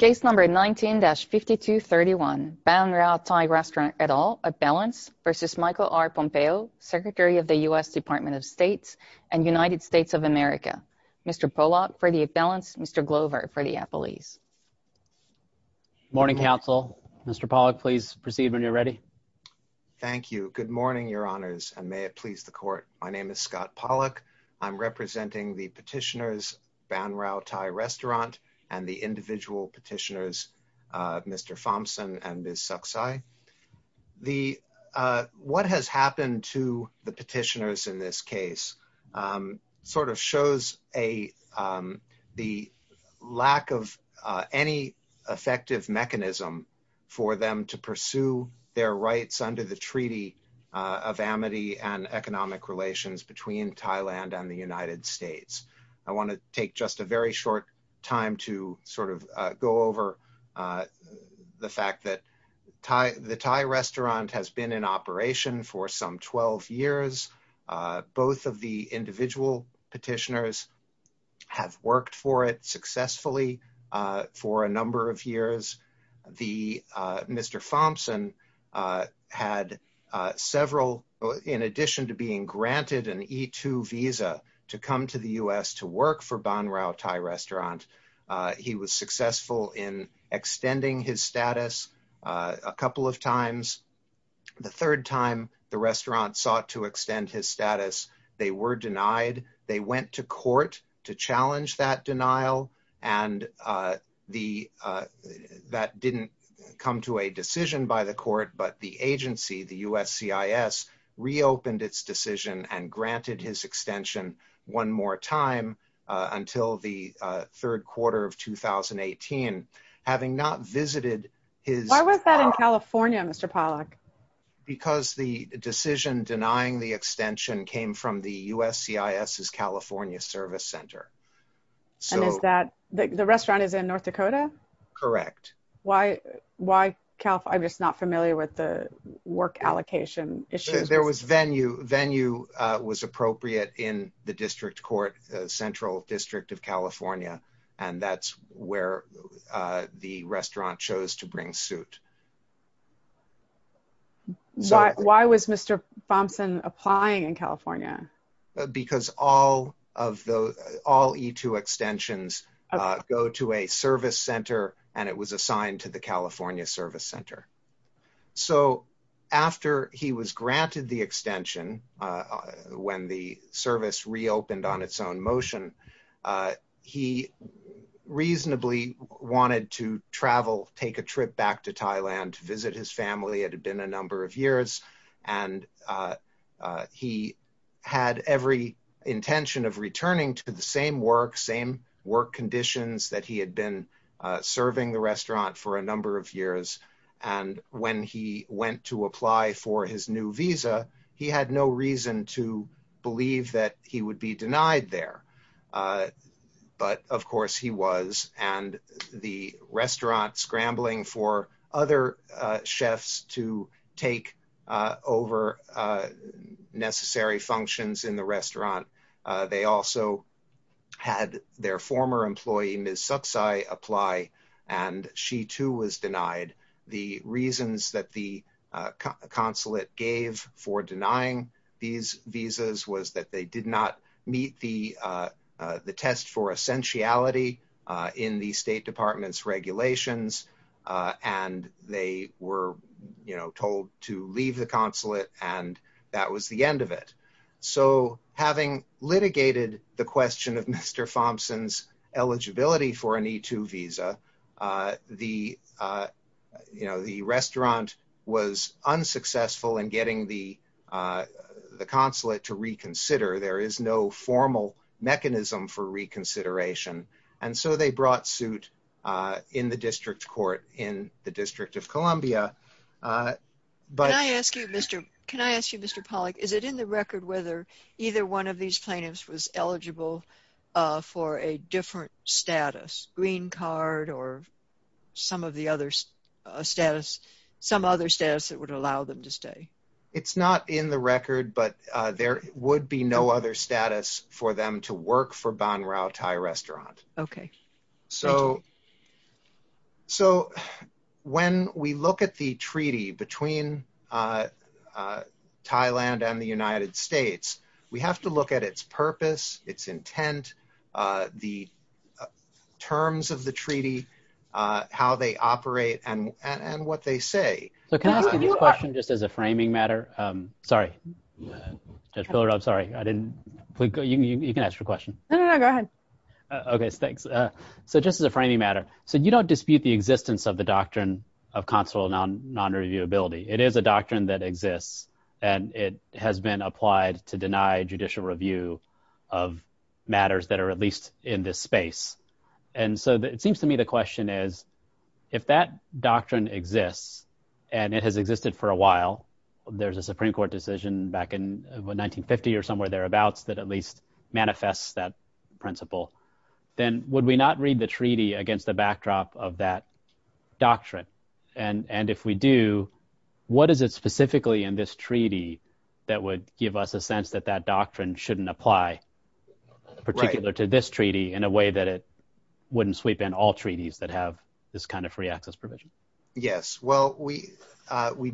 19-5231 Baan Rao Thai Restaurant et al. Appellants v. Michael R. Pompeo, Secretary of the U.S. Department of State and United States of America. Mr. Pollock for the Appellants, Mr. Glover for the Appellees. Good morning, counsel. Mr. Pollock, please proceed when you're ready. Thank you. Good morning, your honors, and may it please the court. My name is Scott Baan Rao Thai Restaurant and the individual petitioners, Mr. Thompson and Ms. Saksai. What has happened to the petitioners in this case sort of shows the lack of any effective mechanism for them to pursue their rights under the Treaty of Amity and Economic Relations between Thailand and the United States. I want to take just a very short time to sort of go over the fact that the Thai Restaurant has been in operation for some 12 years. Both of the individual petitioners have worked for it successfully for a number of years. Mr. Thompson had several, in addition to being granted an E-2 visa to come to the U.S. to work for Baan Rao Thai Restaurant, he was successful in extending his status a couple of times. The third time the restaurant sought to extend his status, they were denied. They went to court to challenge that court, but the agency, the USCIS, reopened its decision and granted his extension one more time until the third quarter of 2018, having not visited his... Why was that in California, Mr. Pollack? Because the decision denying the extension came from the USCIS's California Service Center. And is that, the restaurant is in North Dakota? Correct. Why, I'm just not familiar with the work allocation issues. There was venue, venue was appropriate in the district court, Central District of California, and that's where the restaurant chose to bring suit. Why, why was Mr. Thompson applying in California? Because all of the, all E-2 extensions go to a service center and it was assigned to the California Service Center. So after he was granted the extension, when the service reopened on its own motion, he reasonably wanted to travel, take a land to visit his family. It had been a number of years and he had every intention of returning to the same work, same work conditions that he had been serving the restaurant for a number of years. And when he went to apply for his new visa, he had no reason to believe that he would be denied there. But of course he was, and the restaurant scrambling for other chefs to take over necessary functions in the restaurant. They also had their former employee, Ms. Sucksai, apply and she too was denied. The reasons that the consulate gave for denying these visas was that they did not meet the test for essentiality in the state department's regulations. And they were told to leave the consulate and that was the end of it. So having litigated the question of Mr. Thompson's eligibility for an E-2 visa, the restaurant was there is no formal mechanism for reconsideration. And so they brought suit in the district court in the District of Columbia. Can I ask you, Mr. Pollack, is it in the record whether either one of these plaintiffs was eligible for a different status, green card or some of the other status, some other status that would allow them to stay? It's not in the record, but there would be no other status for them to work for Ban Rao Thai Restaurant. So when we look at the treaty between Thailand and the United States, we have to look at its purpose, its intent, the terms of the treaty, how they operate and what they say. So can I ask you this question just as a framing matter? Sorry, Judge Pillar, I'm sorry. You can ask your question. No, no, no, go ahead. Okay, thanks. So just as a framing matter. So you don't dispute the existence of the doctrine of consular non-reviewability. It is a doctrine that exists and it has been applied to deny judicial review of matters that are at least in this space. And so it seems to me the question is, if that doctrine exists and it has existed for a while, there's a Supreme Court decision back in 1950 or somewhere thereabouts that at least manifests that principle, then would we not read the treaty against the backdrop of that doctrine? And if we do, what is it specifically in this treaty that would give us a sense that that doctrine shouldn't apply particular to this treaty in a way that it wouldn't sweep in all treaties that have this kind of free access provision? Yes. Well, we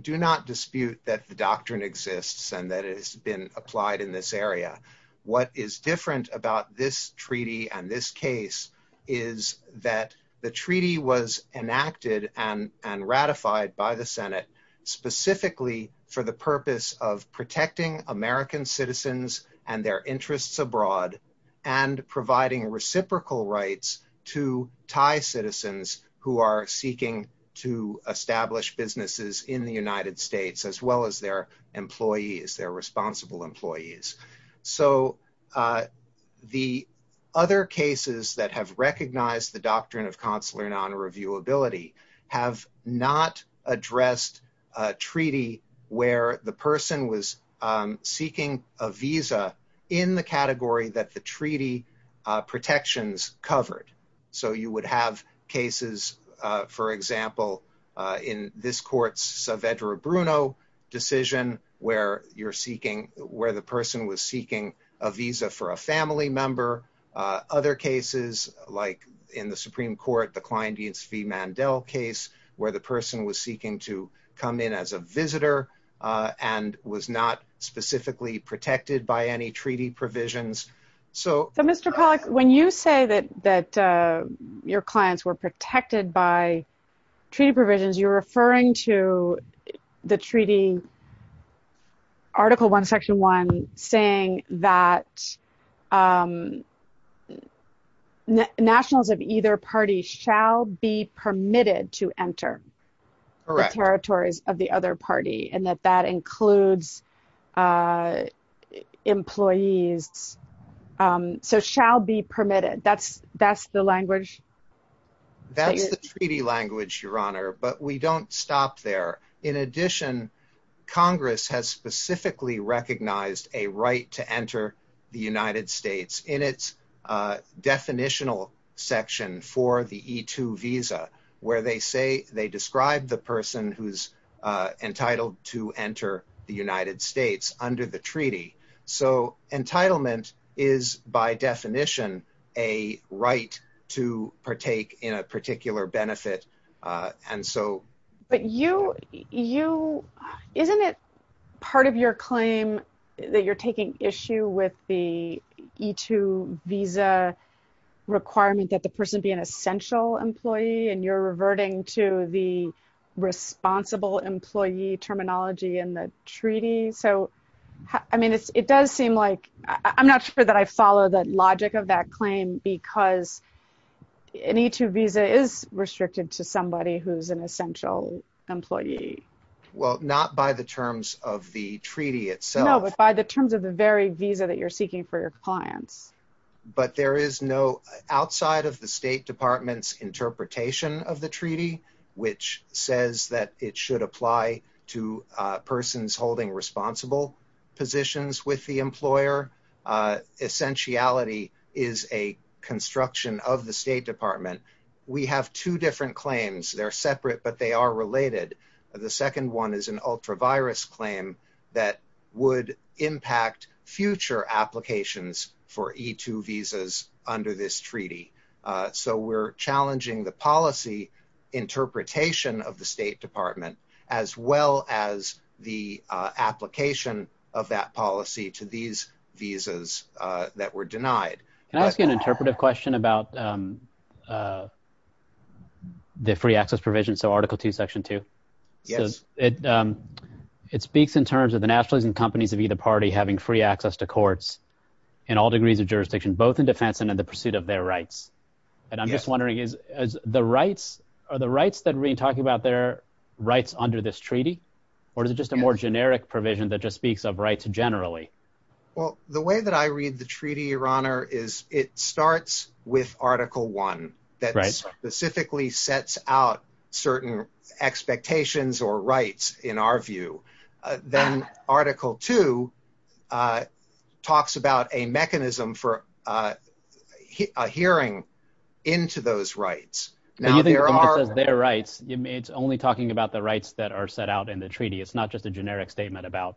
do not dispute that the doctrine exists and that it has been applied in this area. What is different about this treaty and this case is that the treaty was enacted and ratified by the Senate specifically for the purpose of protecting American citizens and their interests abroad and providing reciprocal rights to Thai citizens who are seeking to establish businesses in the United States as well as their employees, their responsible employees. So the other cases that have recognized the doctrine of consular non-reviewability have not addressed a treaty where the person was seeking a visa in the category that the treaty protections covered. So you would have cases, for example, in this court's Saavedra Bruno decision where you're seeking, where the person was seeking a visa for a family member. Other cases like in the Supreme Court, the Klein-Dienst v. Mandel case where the person was seeking to come in as a visitor and was not specifically protected by any treaty provisions. So Mr. Pollack, when you say that your clients were protected by treaty provisions, you're referring to the treaty, Article 1, Section 1, saying that nationals of either party shall be permitted to enter the territories of the other party and that that includes employees. So shall be permitted, that's the language? That's the treaty language, Your Honor, but we don't stop there. In addition, Congress has specifically recognized a right to enter the United States in its definitional section for the E-2 visa where they say, they describe the person who's entitled to enter the United States under the treaty. So entitlement is, by definition, a right to partake in a particular benefit. But isn't it part of your claim that you're taking issue with the E-2 visa requirement that the person be an essential employee and you're reverting to the treaty? So, I mean, it does seem like, I'm not sure that I follow the logic of that claim because an E-2 visa is restricted to somebody who's an essential employee. Well, not by the terms of the treaty itself. No, but by the terms of the very visa that you're seeking for your clients. But there is no, outside of the State Department's interpretation of the treaty, which says that it should apply to persons holding responsible positions with the employer. Essentiality is a construction of the State Department. We have two different claims. They're separate, but they are related. The second one is an ultra-virus claim that would impact future applications for E-2 visas under this treaty. So we're challenging the policy interpretation of the State Department, as well as the application of that policy to these visas that were denied. Can I ask you an interpretive question about the free access provision, so Article II, Section 2? Yes. It speaks in terms of the nationalities and companies of either party having free access to and in the pursuit of their rights. And I'm just wondering, are the rights that we're talking about their rights under this treaty, or is it just a more generic provision that just speaks of rights generally? Well, the way that I read the treaty, Your Honor, is it starts with Article I, that specifically sets out certain expectations or in our view. Then Article II talks about a mechanism for a hearing into those rights. But you think it just says their rights. It's only talking about the rights that are set out in the treaty. It's not just a generic statement about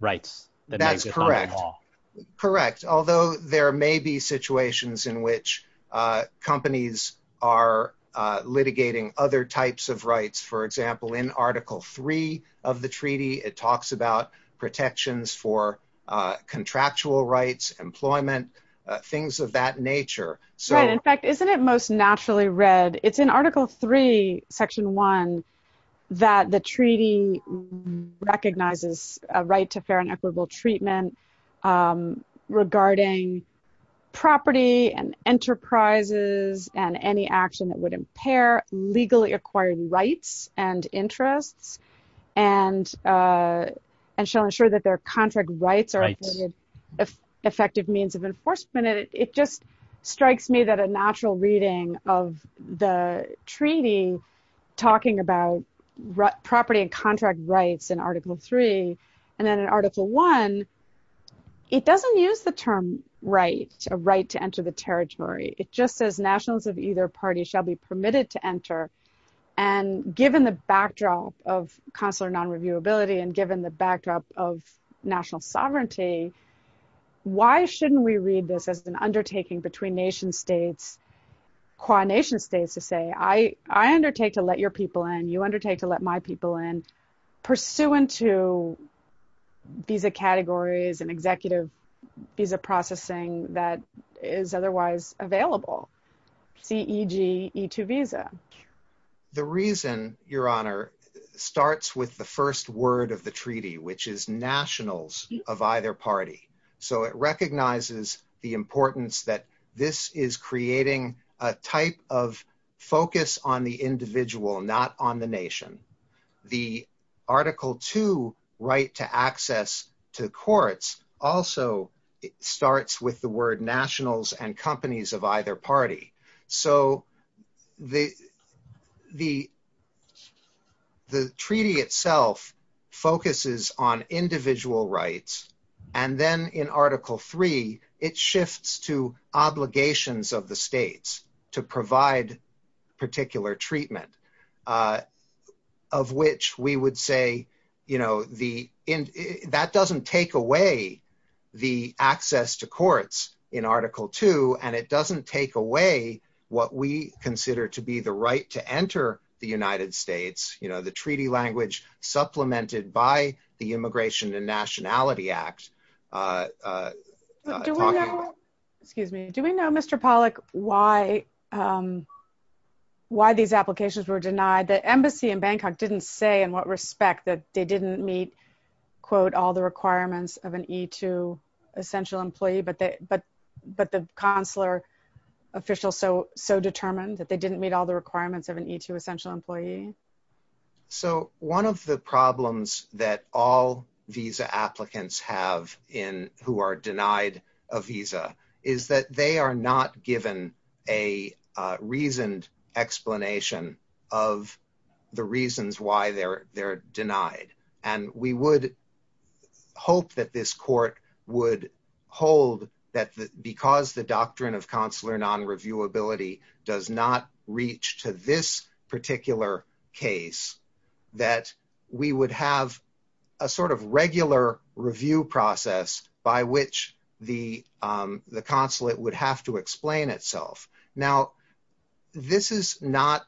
rights. That's correct. Correct. Although there may be situations in which companies are litigating other types of rights, for example, in Article III of the treaty, it talks about protections for contractual rights, employment, things of that nature. Right. In fact, isn't it most naturally read, it's in Article III, Section I, that the treaty recognizes a right to fair and equitable treatment regarding property and enterprises and any action that would impair legally acquired rights and interests and shall ensure that their contract rights are effective means of enforcement. It just strikes me that a natural reading of the treaty talking about property and contract rights in Article III and then in Article I, it doesn't use the term right, a right to enter the territory. It just says nationals of either party shall be permitted to enter. Given the backdrop of consular non-reviewability and given the backdrop of national sovereignty, why shouldn't we read this as an undertaking between nation-states, qua nation-states to say, I undertake to let your people in, you undertake to let my people in, pursuant to visa categories and executive visa processing that is otherwise available, C-E-G-E-2 visa? The reason, Your Honor, starts with the first word of the treaty, which is nationals of either party. So it recognizes the importance that this is creating a type of focus on the individual, not on the nation. The Article II right to access to courts also starts with the word nationals and companies of either party. So the treaty itself focuses on individual rights and then in Article III, it shifts to obligations of the states to provide particular treatment of which we would say, that doesn't take away the access to courts in Article II and it doesn't take away what we consider to be the right to enter the United States, the treaty language supplemented by the Immigration and Nationality Act. Do we know – excuse me. Do we know, Mr. Pollack, why these applications were denied? The embassy in Bangkok didn't say in what respect that they didn't meet, quote, all the requirements of an E-2 essential employee, but the consular official so determined that they didn't meet all the requirements of an E-2 essential employee? So one of the problems that all visa applicants have in who are denied a visa is that they are not given a reasoned explanation of the reasons why they're denied. And we would hope that this court would hold that because the doctrine of consular non-reviewability does not reach to this particular case, that we would have a sort of review process by which the consulate would have to explain itself. Now, this is not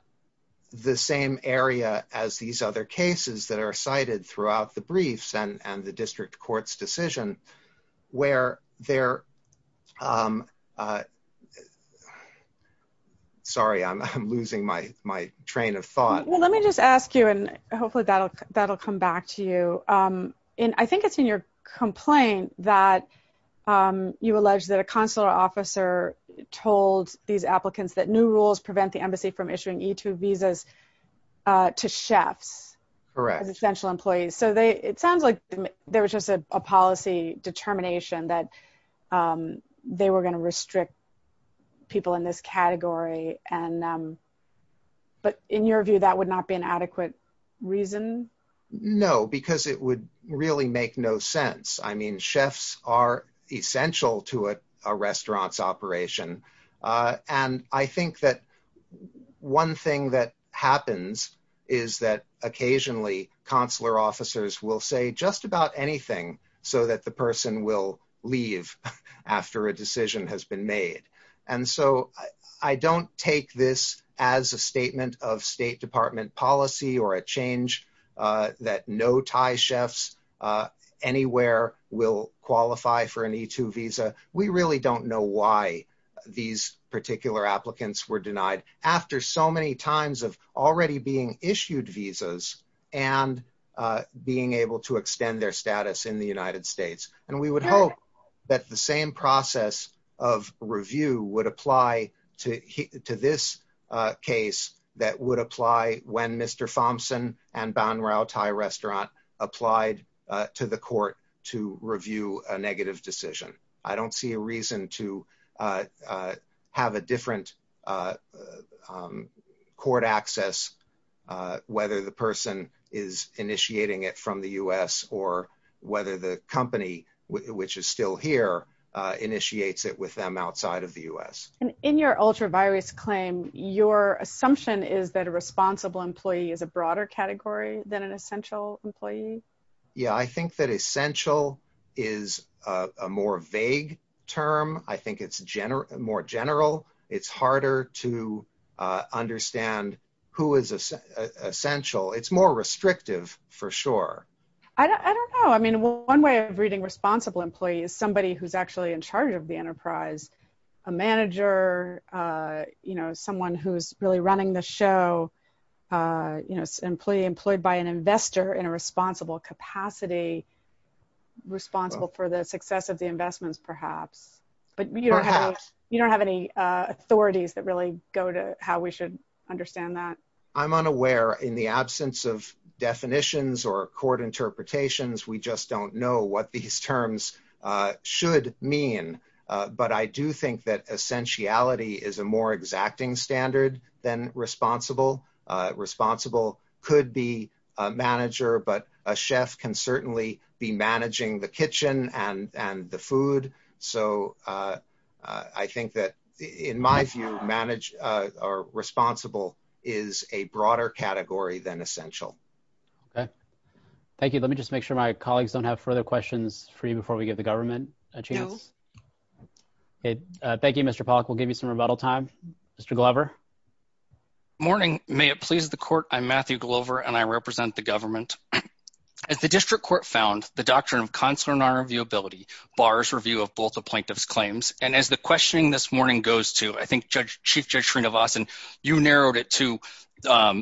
the same area as these other cases that are cited throughout the briefs and the district court's decision where they're – sorry, I'm losing my train of thought. Well, let me just ask you, and hopefully that'll come back to you. And I think it's in your complaint that you allege that a consular officer told these applicants that new rules prevent the embassy from issuing E-2 visas to chefs. Correct. As essential employees. So they – it sounds like there was just a policy determination that they were going to restrict people in this category and – but in your view, that would not be an adequate reason? No, because it would really make no sense. I mean, chefs are essential to a restaurant's operation. And I think that one thing that happens is that occasionally consular officers will say just about anything so that the person will leave after a decision has been made. And so I don't take this as a statement of State Department policy or a change that no Thai chefs anywhere will qualify for an E-2 visa. We really don't know why these particular applicants were denied after so many times of already being issued visas and being able to extend their status in the United States. And we would hope that the same process of review would apply to this case that would apply when Mr. Thompson and Ban Rao Thai Restaurant applied to the court to review a negative decision. I don't see a reason to have a different court access, whether the person is initiating it from the U.S. or whether the company, which is still here, initiates it with them outside of the U.S. And in your ultravirus claim, your assumption is that a responsible employee is a broader category than an essential employee? Yeah, I think that essential is a more vague term. I think it's more general. It's harder to understand who is essential. It's more restrictive for sure. I don't know. I mean, one way of reading responsible employee is somebody who's actually in charge of the enterprise, a manager, someone who's really running the show, employee employed by an investor in a responsible capacity, responsible for the success of the investments, perhaps. But you don't have any authorities that really go to how we should understand that. I'm unaware in the absence of definitions or court interpretations. We just don't know what these terms should mean. But I do think that essentiality is a more exacting standard than responsible. Responsible could be a manager, but a chef can certainly be managing the kitchen and the food. So I think that in my view, responsible is a broader category than essential. Okay. Thank you. Let me just make sure my colleagues don't have further questions for you before we give the government a chance. Thank you, Mr. Pollack. We'll give you some rebuttal time. Mr. Glover. Morning. May it please the court. I'm Matthew Glover, and I the Doctrine of Consular and Honor Reviewability bars review of both the plaintiff's claims. And as the questioning this morning goes to, I think Chief Judge Srinivasan, you narrowed it to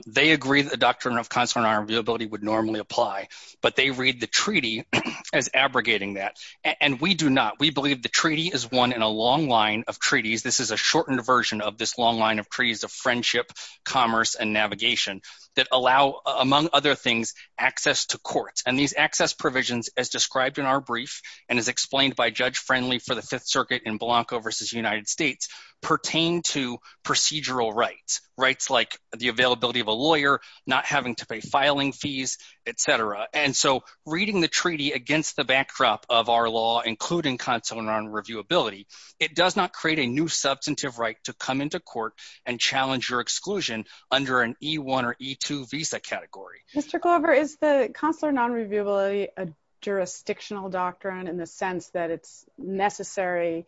they agree that the Doctrine of Consular and Honor Reviewability would normally apply, but they read the treaty as abrogating that. And we do not. We believe the treaty is one in a long line of treaties. This is a shortened version of this long line of treaties of friendship, commerce, and navigation that allow, among other things, access to court. And these access provisions as described in our brief, and as explained by Judge Friendly for the Fifth Circuit in Blanco versus United States, pertain to procedural rights, rights like the availability of a lawyer, not having to pay filing fees, et cetera. And so reading the treaty against the backdrop of our law, including Consular and Honor Reviewability, it does not create a new substantive right to come into court and challenge your exclusion under an E-1 or E-2 visa category. Mr. Glover, is the Consular and Honor Reviewability a jurisdictional doctrine in the sense that it's necessary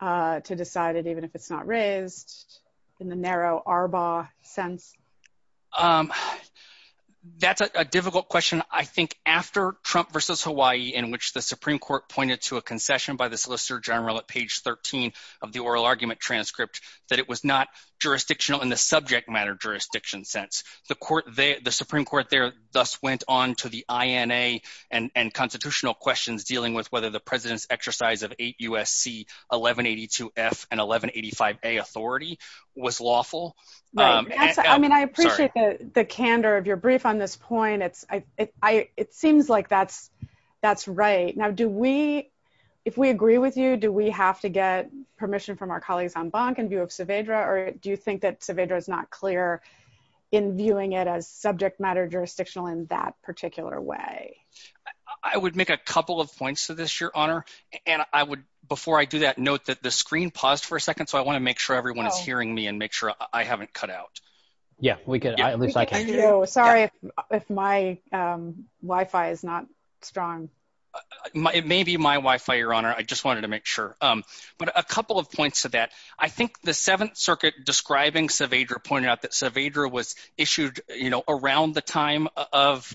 to decide it even if it's not raised in the narrow ARBA sense? That's a difficult question. I think after Trump versus Hawaii, in which the Supreme Court pointed to a concession by the Solicitor General at page 13 of the oral argument transcript, that it was not jurisdictional in the subject matter jurisdiction sense. The Supreme Court there thus went on to the INA and constitutional questions dealing with whether the President's exercise of 8 U.S.C. 1182-F and 1185-A authority was lawful. I mean, I appreciate the If we agree with you, do we have to get permission from our colleagues on Bank in view of Saavedra, or do you think that Saavedra is not clear in viewing it as subject matter jurisdictional in that particular way? I would make a couple of points to this, Your Honor, and I would, before I do that, note that the screen paused for a second, so I want to make sure everyone is hearing me and make sure I haven't cut out. Yeah, we could, at least I can. Sorry if my Wi-Fi is not strong. It may be my Wi-Fi, Your Honor. I just wanted to make sure, but a couple of points to that. I think the Seventh Circuit describing Saavedra pointed out that Saavedra was issued, you know, around the time of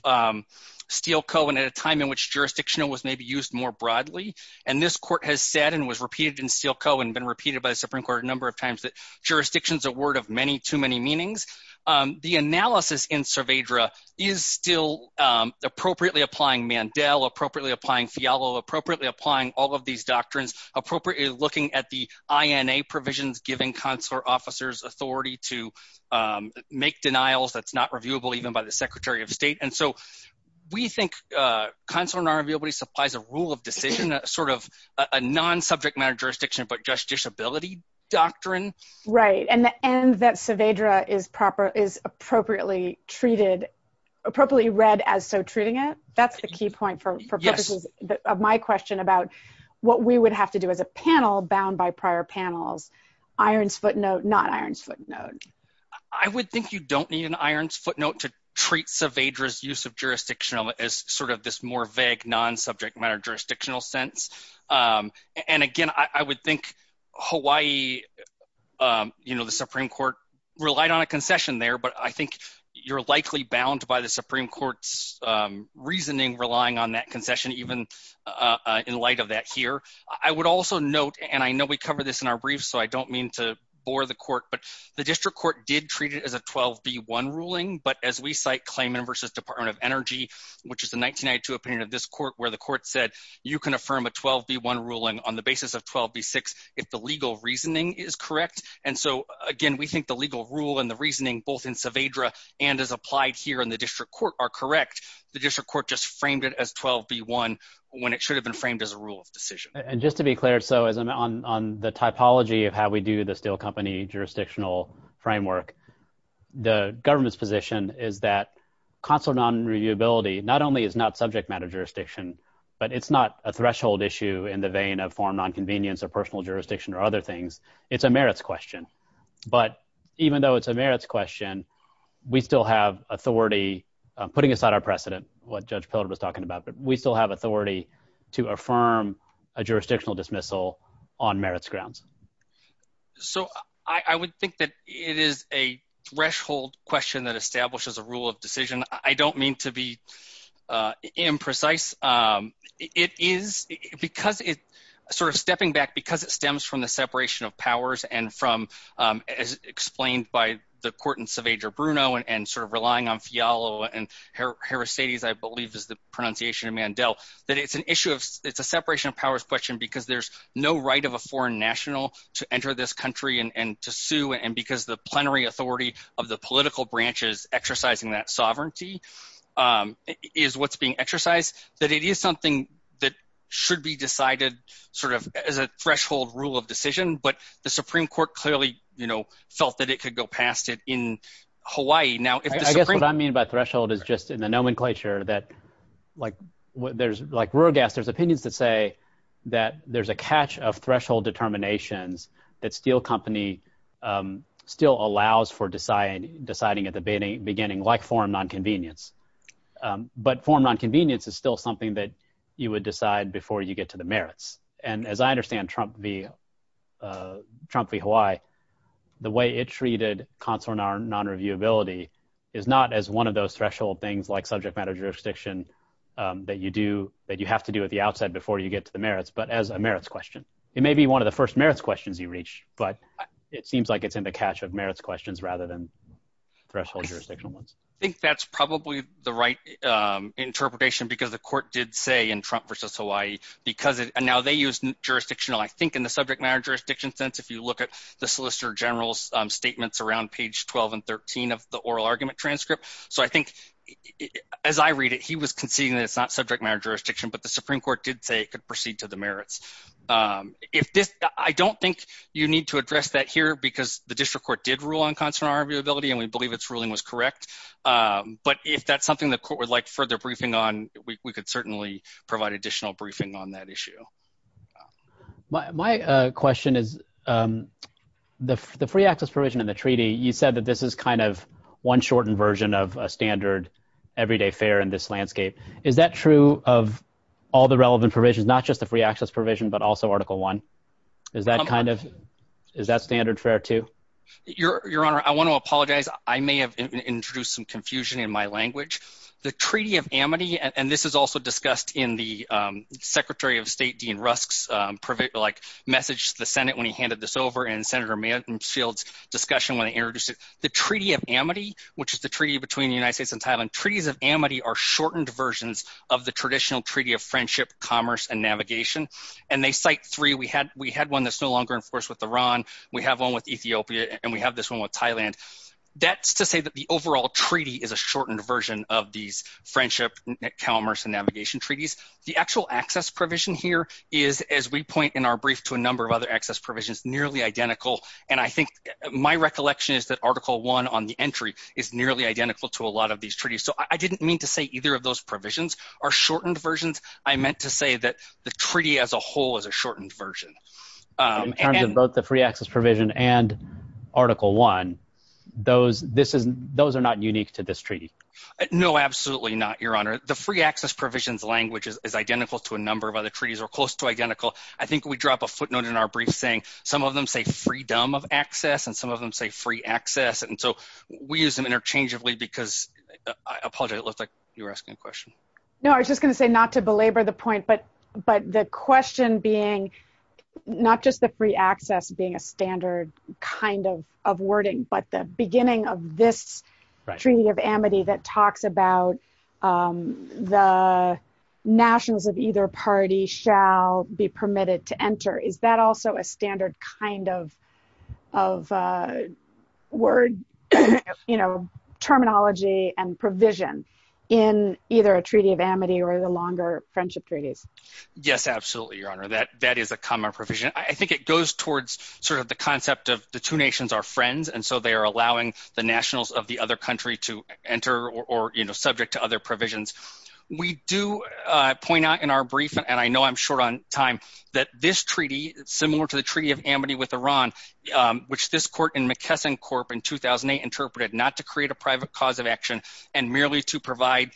Steele Co. and at a time in which jurisdictional was maybe used more broadly, and this Court has said and was repeated in Steele Co. and been repeated by the Supreme Court a number of times that jurisdiction is a word of many too many meanings. The analysis in Saavedra is still appropriately applying Mandel, appropriately applying Fialo, appropriately applying all of these doctrines, appropriately looking at the INA provisions, giving consular officers authority to make denials that's not reviewable even by the Secretary of State, and so we think consular non-reviewability supplies a rule of decision, sort of a non-subject matter jurisdiction, but just disability doctrine. Right, and the end that Saavedra is proper, treated, appropriately read as so treating it, that's the key point for purposes of my question about what we would have to do as a panel bound by prior panels. Iron's footnote, not iron's footnote. I would think you don't need an iron's footnote to treat Saavedra's use of jurisdictional as sort of this more vague non-subject matter jurisdictional sense, and again, I would think Hawaii, you know, the Supreme Court relied on a concession there, but I think you're likely bound by the Supreme Court's reasoning relying on that concession even in light of that here. I would also note, and I know we cover this in our briefs, so I don't mean to bore the court, but the district court did treat it as a 12b1 ruling, but as we cite Klayman v. Department of Energy, which is the 1992 opinion of this court, where the court said you can affirm a 12b1 ruling on the basis of 12b6 if the legal reasoning is correct, and so again, we think the legal rule and the reasoning both in Saavedra and as applied here in the district court are correct. The district court just framed it as 12b1 when it should have been framed as a rule of decision. And just to be clear, so on the typology of how we do the steel company jurisdictional framework, the government's position is that consular non-reviewability not only is not subject matter jurisdiction, but it's not a threshold issue in the vein of foreign non-convenience or personal jurisdiction or other things. It's a merits question, but even though it's a merits question, we still have authority, putting aside our precedent, what Judge Pilgrim was talking about, but we still have authority to affirm a jurisdictional dismissal on merits grounds. So I would think that it is a threshold question that establishes a rule of decision. I don't mean to be imprecise. It is, because it, sort of stepping back because it stems from the separation of powers and from, as explained by the court in Saavedra Bruno and sort of relying on Fialo and Herastades, I believe is the pronunciation in Mandel, that it's an issue of, it's a separation of powers question because there's no right of a foreign national to enter this country and to sue and because the plenary authority of the political branches exercising that sovereignty is what's being exercised, that it is something that should be decided, sort of, as a threshold rule of decision, but the Supreme Court clearly, you know, felt that it could go past it in Hawaii. Now, I guess what I mean by threshold is just in the nomenclature that, like, there's, like, rural gas, there's opinions that say that there's a catch of threshold determinations that steel company still allows for deciding at the beginning, like forum non-convenience, but forum non-convenience is still something that you would decide before you get to the merits, and as I understand Trump v. Hawaii, the way it treated consular non-reviewability is not as one of those threshold things like subject matter jurisdiction that you do, that you have to do at the outside before you get to the merits, but as a merits question. It may be one of the first questions you reach, but it seems like it's in the cache of merits questions rather than threshold jurisdictional ones. I think that's probably the right interpretation, because the court did say in Trump v. Hawaii, because now they use jurisdictional, I think, in the subject matter jurisdiction sense, if you look at the Solicitor General's statements around page 12 and 13 of the oral argument transcript, so I think, as I read it, he was conceding that it's not subject matter jurisdiction. I don't think you need to address that here, because the district court did rule on consular non-reviewability, and we believe its ruling was correct, but if that's something the court would like further briefing on, we could certainly provide additional briefing on that issue. My question is, the free access provision in the treaty, you said that this is kind of one shortened version of a standard everyday fair in this landscape. Is that true of all the kind of, is that standard fair too? Your Honor, I want to apologize. I may have introduced some confusion in my language. The Treaty of Amity, and this is also discussed in the Secretary of State Dean Rusk's message to the Senate when he handed this over, and Senator Mansfield's discussion when they introduced it. The Treaty of Amity, which is the treaty between the United States and Thailand, treaties of Amity are shortened versions of the traditional treaty of friendship, commerce, and navigation, and they cite three. We had one that's no longer enforced with Iran, we have one with Ethiopia, and we have this one with Thailand. That's to say that the overall treaty is a shortened version of these friendship, commerce, and navigation treaties. The actual access provision here is, as we point in our brief to a number of other access provisions, nearly identical, and I think my recollection is that Article 1 on the entry is nearly identical to a lot of these treaties, so I didn't mean to say either of those provisions are shortened versions. I meant to say that the treaty as a whole is a shortened version. In terms of both the free access provision and Article 1, those are not unique to this treaty. No, absolutely not, Your Honor. The free access provisions language is identical to a number of other treaties or close to identical. I think we drop a footnote in our brief saying some of them say freedom of access and some of them say free access, and so we use them interchangeably because I apologize, it looked like you were asking a question. No, I was just going to say not to belabor the point, but the question being not just the free access being a standard kind of wording, but the beginning of this Treaty of Amity that talks about the nationals of either party shall be permitted to enter. Is that also a standard kind of word, you know, terminology and provision in either a Treaty of Amity or the longer friendship treaties? Yes, absolutely, Your Honor. That is a common provision. I think it goes towards sort of the concept of the two nations are friends, and so they are allowing the nationals of the other country to enter or, you know, subject to other provisions. We do point out in our brief, and I know I'm short on time, that this treaty, similar to the Treaty of Amity with Iran, which this court in McKesson Corp in 2008 interpreted not to create a private cause of action and merely to provide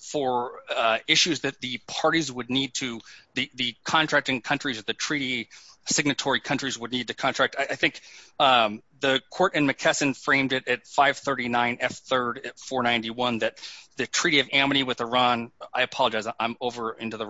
for issues that the parties would need to, the contracting countries, the treaty signatory countries would need to contract. I think the court in McKesson framed it at 539 F3 at 491 that the Treaty of Amity with Iran, I apologize, I'm over into the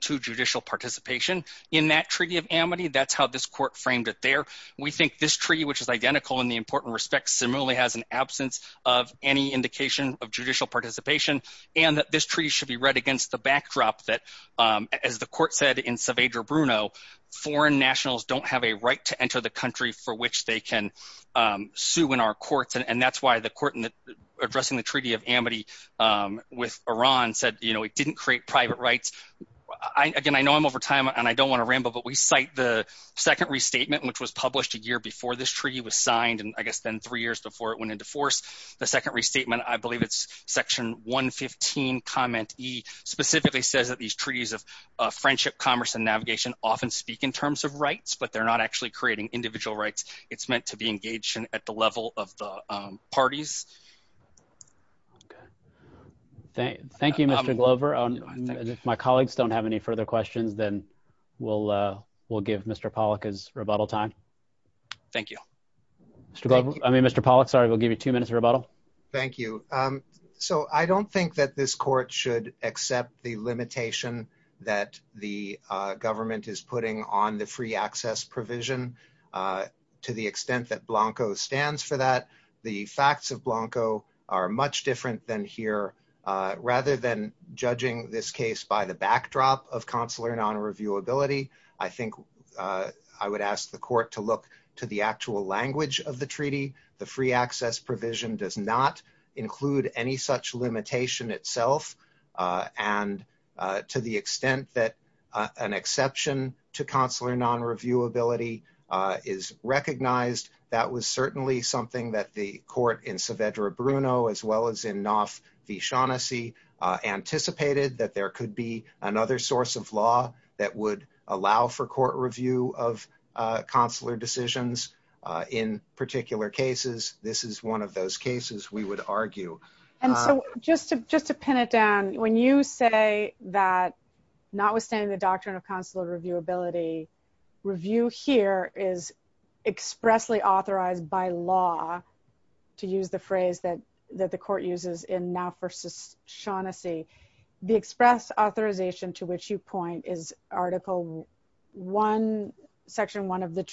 to judicial participation in that Treaty of Amity. That's how this court framed it there. We think this treaty, which is identical in the important respect, similarly has an absence of any indication of judicial participation, and that this treaty should be read against the backdrop that, as the court said in Saavedra Bruno, foreign nationals don't have a right to enter the country for which they can sue in our courts. And that's why the court in addressing the Treaty of Amity with Iran said, you know, it didn't create private rights. Again, I know I'm over time, and I don't want to ramble, but we cite the second restatement, which was published a year before this treaty was signed, and I guess then three years before it went into force. The second restatement, I believe it's section 115 comment E, specifically says that these treaties of friendship, commerce, and navigation often speak in terms of rights, but they're not actually creating individual rights. It's meant to be engaged at the level of the parties. Okay. Thank you, Mr. Glover. If my colleagues don't have any further questions, then we'll give Mr. Pollack his rebuttal time. Thank you. I mean, Mr. Pollack, sorry, we'll give you two minutes of rebuttal. Thank you. So I don't think that this court should accept the limitation that the government is putting on the free access provision to the extent that Blanco stands for that. The facts of Blanco are much different than here. Rather than judging this case by the backdrop of consular non-reviewability, I think I would ask the court to look to the actual language of the treaty. The free access provision does not include any such limitation itself. And to the extent that an exception to consular non-reviewability is recognized, that was certainly something that the court in Saavedra Bruno, as well as in Knopf v. Shaughnessy anticipated that there could be another source of law that would allow for court review of consular decisions in particular cases. This is one of those cases we would argue. And so just to pin it down, when you say that notwithstanding the doctrine of consular reviewability, review here is expressly authorized by law, to use the phrase that the court uses in Knopf v. Shaughnessy. The express authorization to which you point is Article I, Section I of the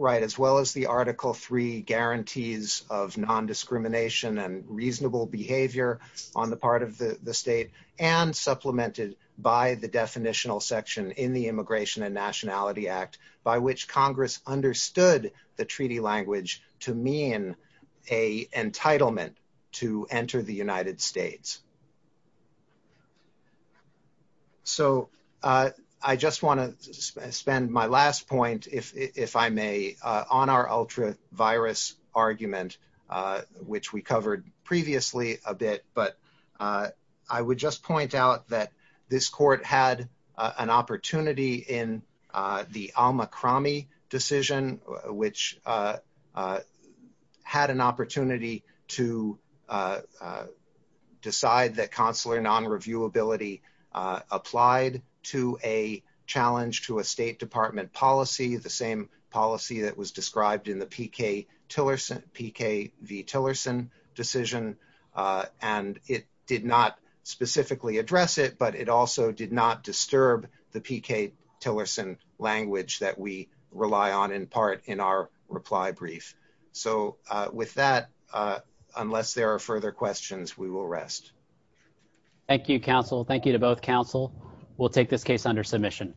Right, as well as the Article III guarantees of non-discrimination and reasonable behavior on the part of the state, and supplemented by the definitional section in the Immigration and Nationality Act, by which Congress understood the treaty language to mean an entitlement to enter the United States. So I just want to spend my last point, if I may, on our ultravirus argument, which we covered previously a bit. But I would just point out that this court had an opportunity in the Al-Mukrami decision, which had an opportunity to decide that consular non-reviewability applied to a challenge to a State Department policy, the same policy that was described in the PK v. Tillerson decision. And it did not specifically address it, but it also did not disturb the PK Tillerson language that we rely on in part in our reply brief. So with that, unless there are further questions, we will rest. Thank you, counsel. Thank you to both counsel. We'll take this case under submission.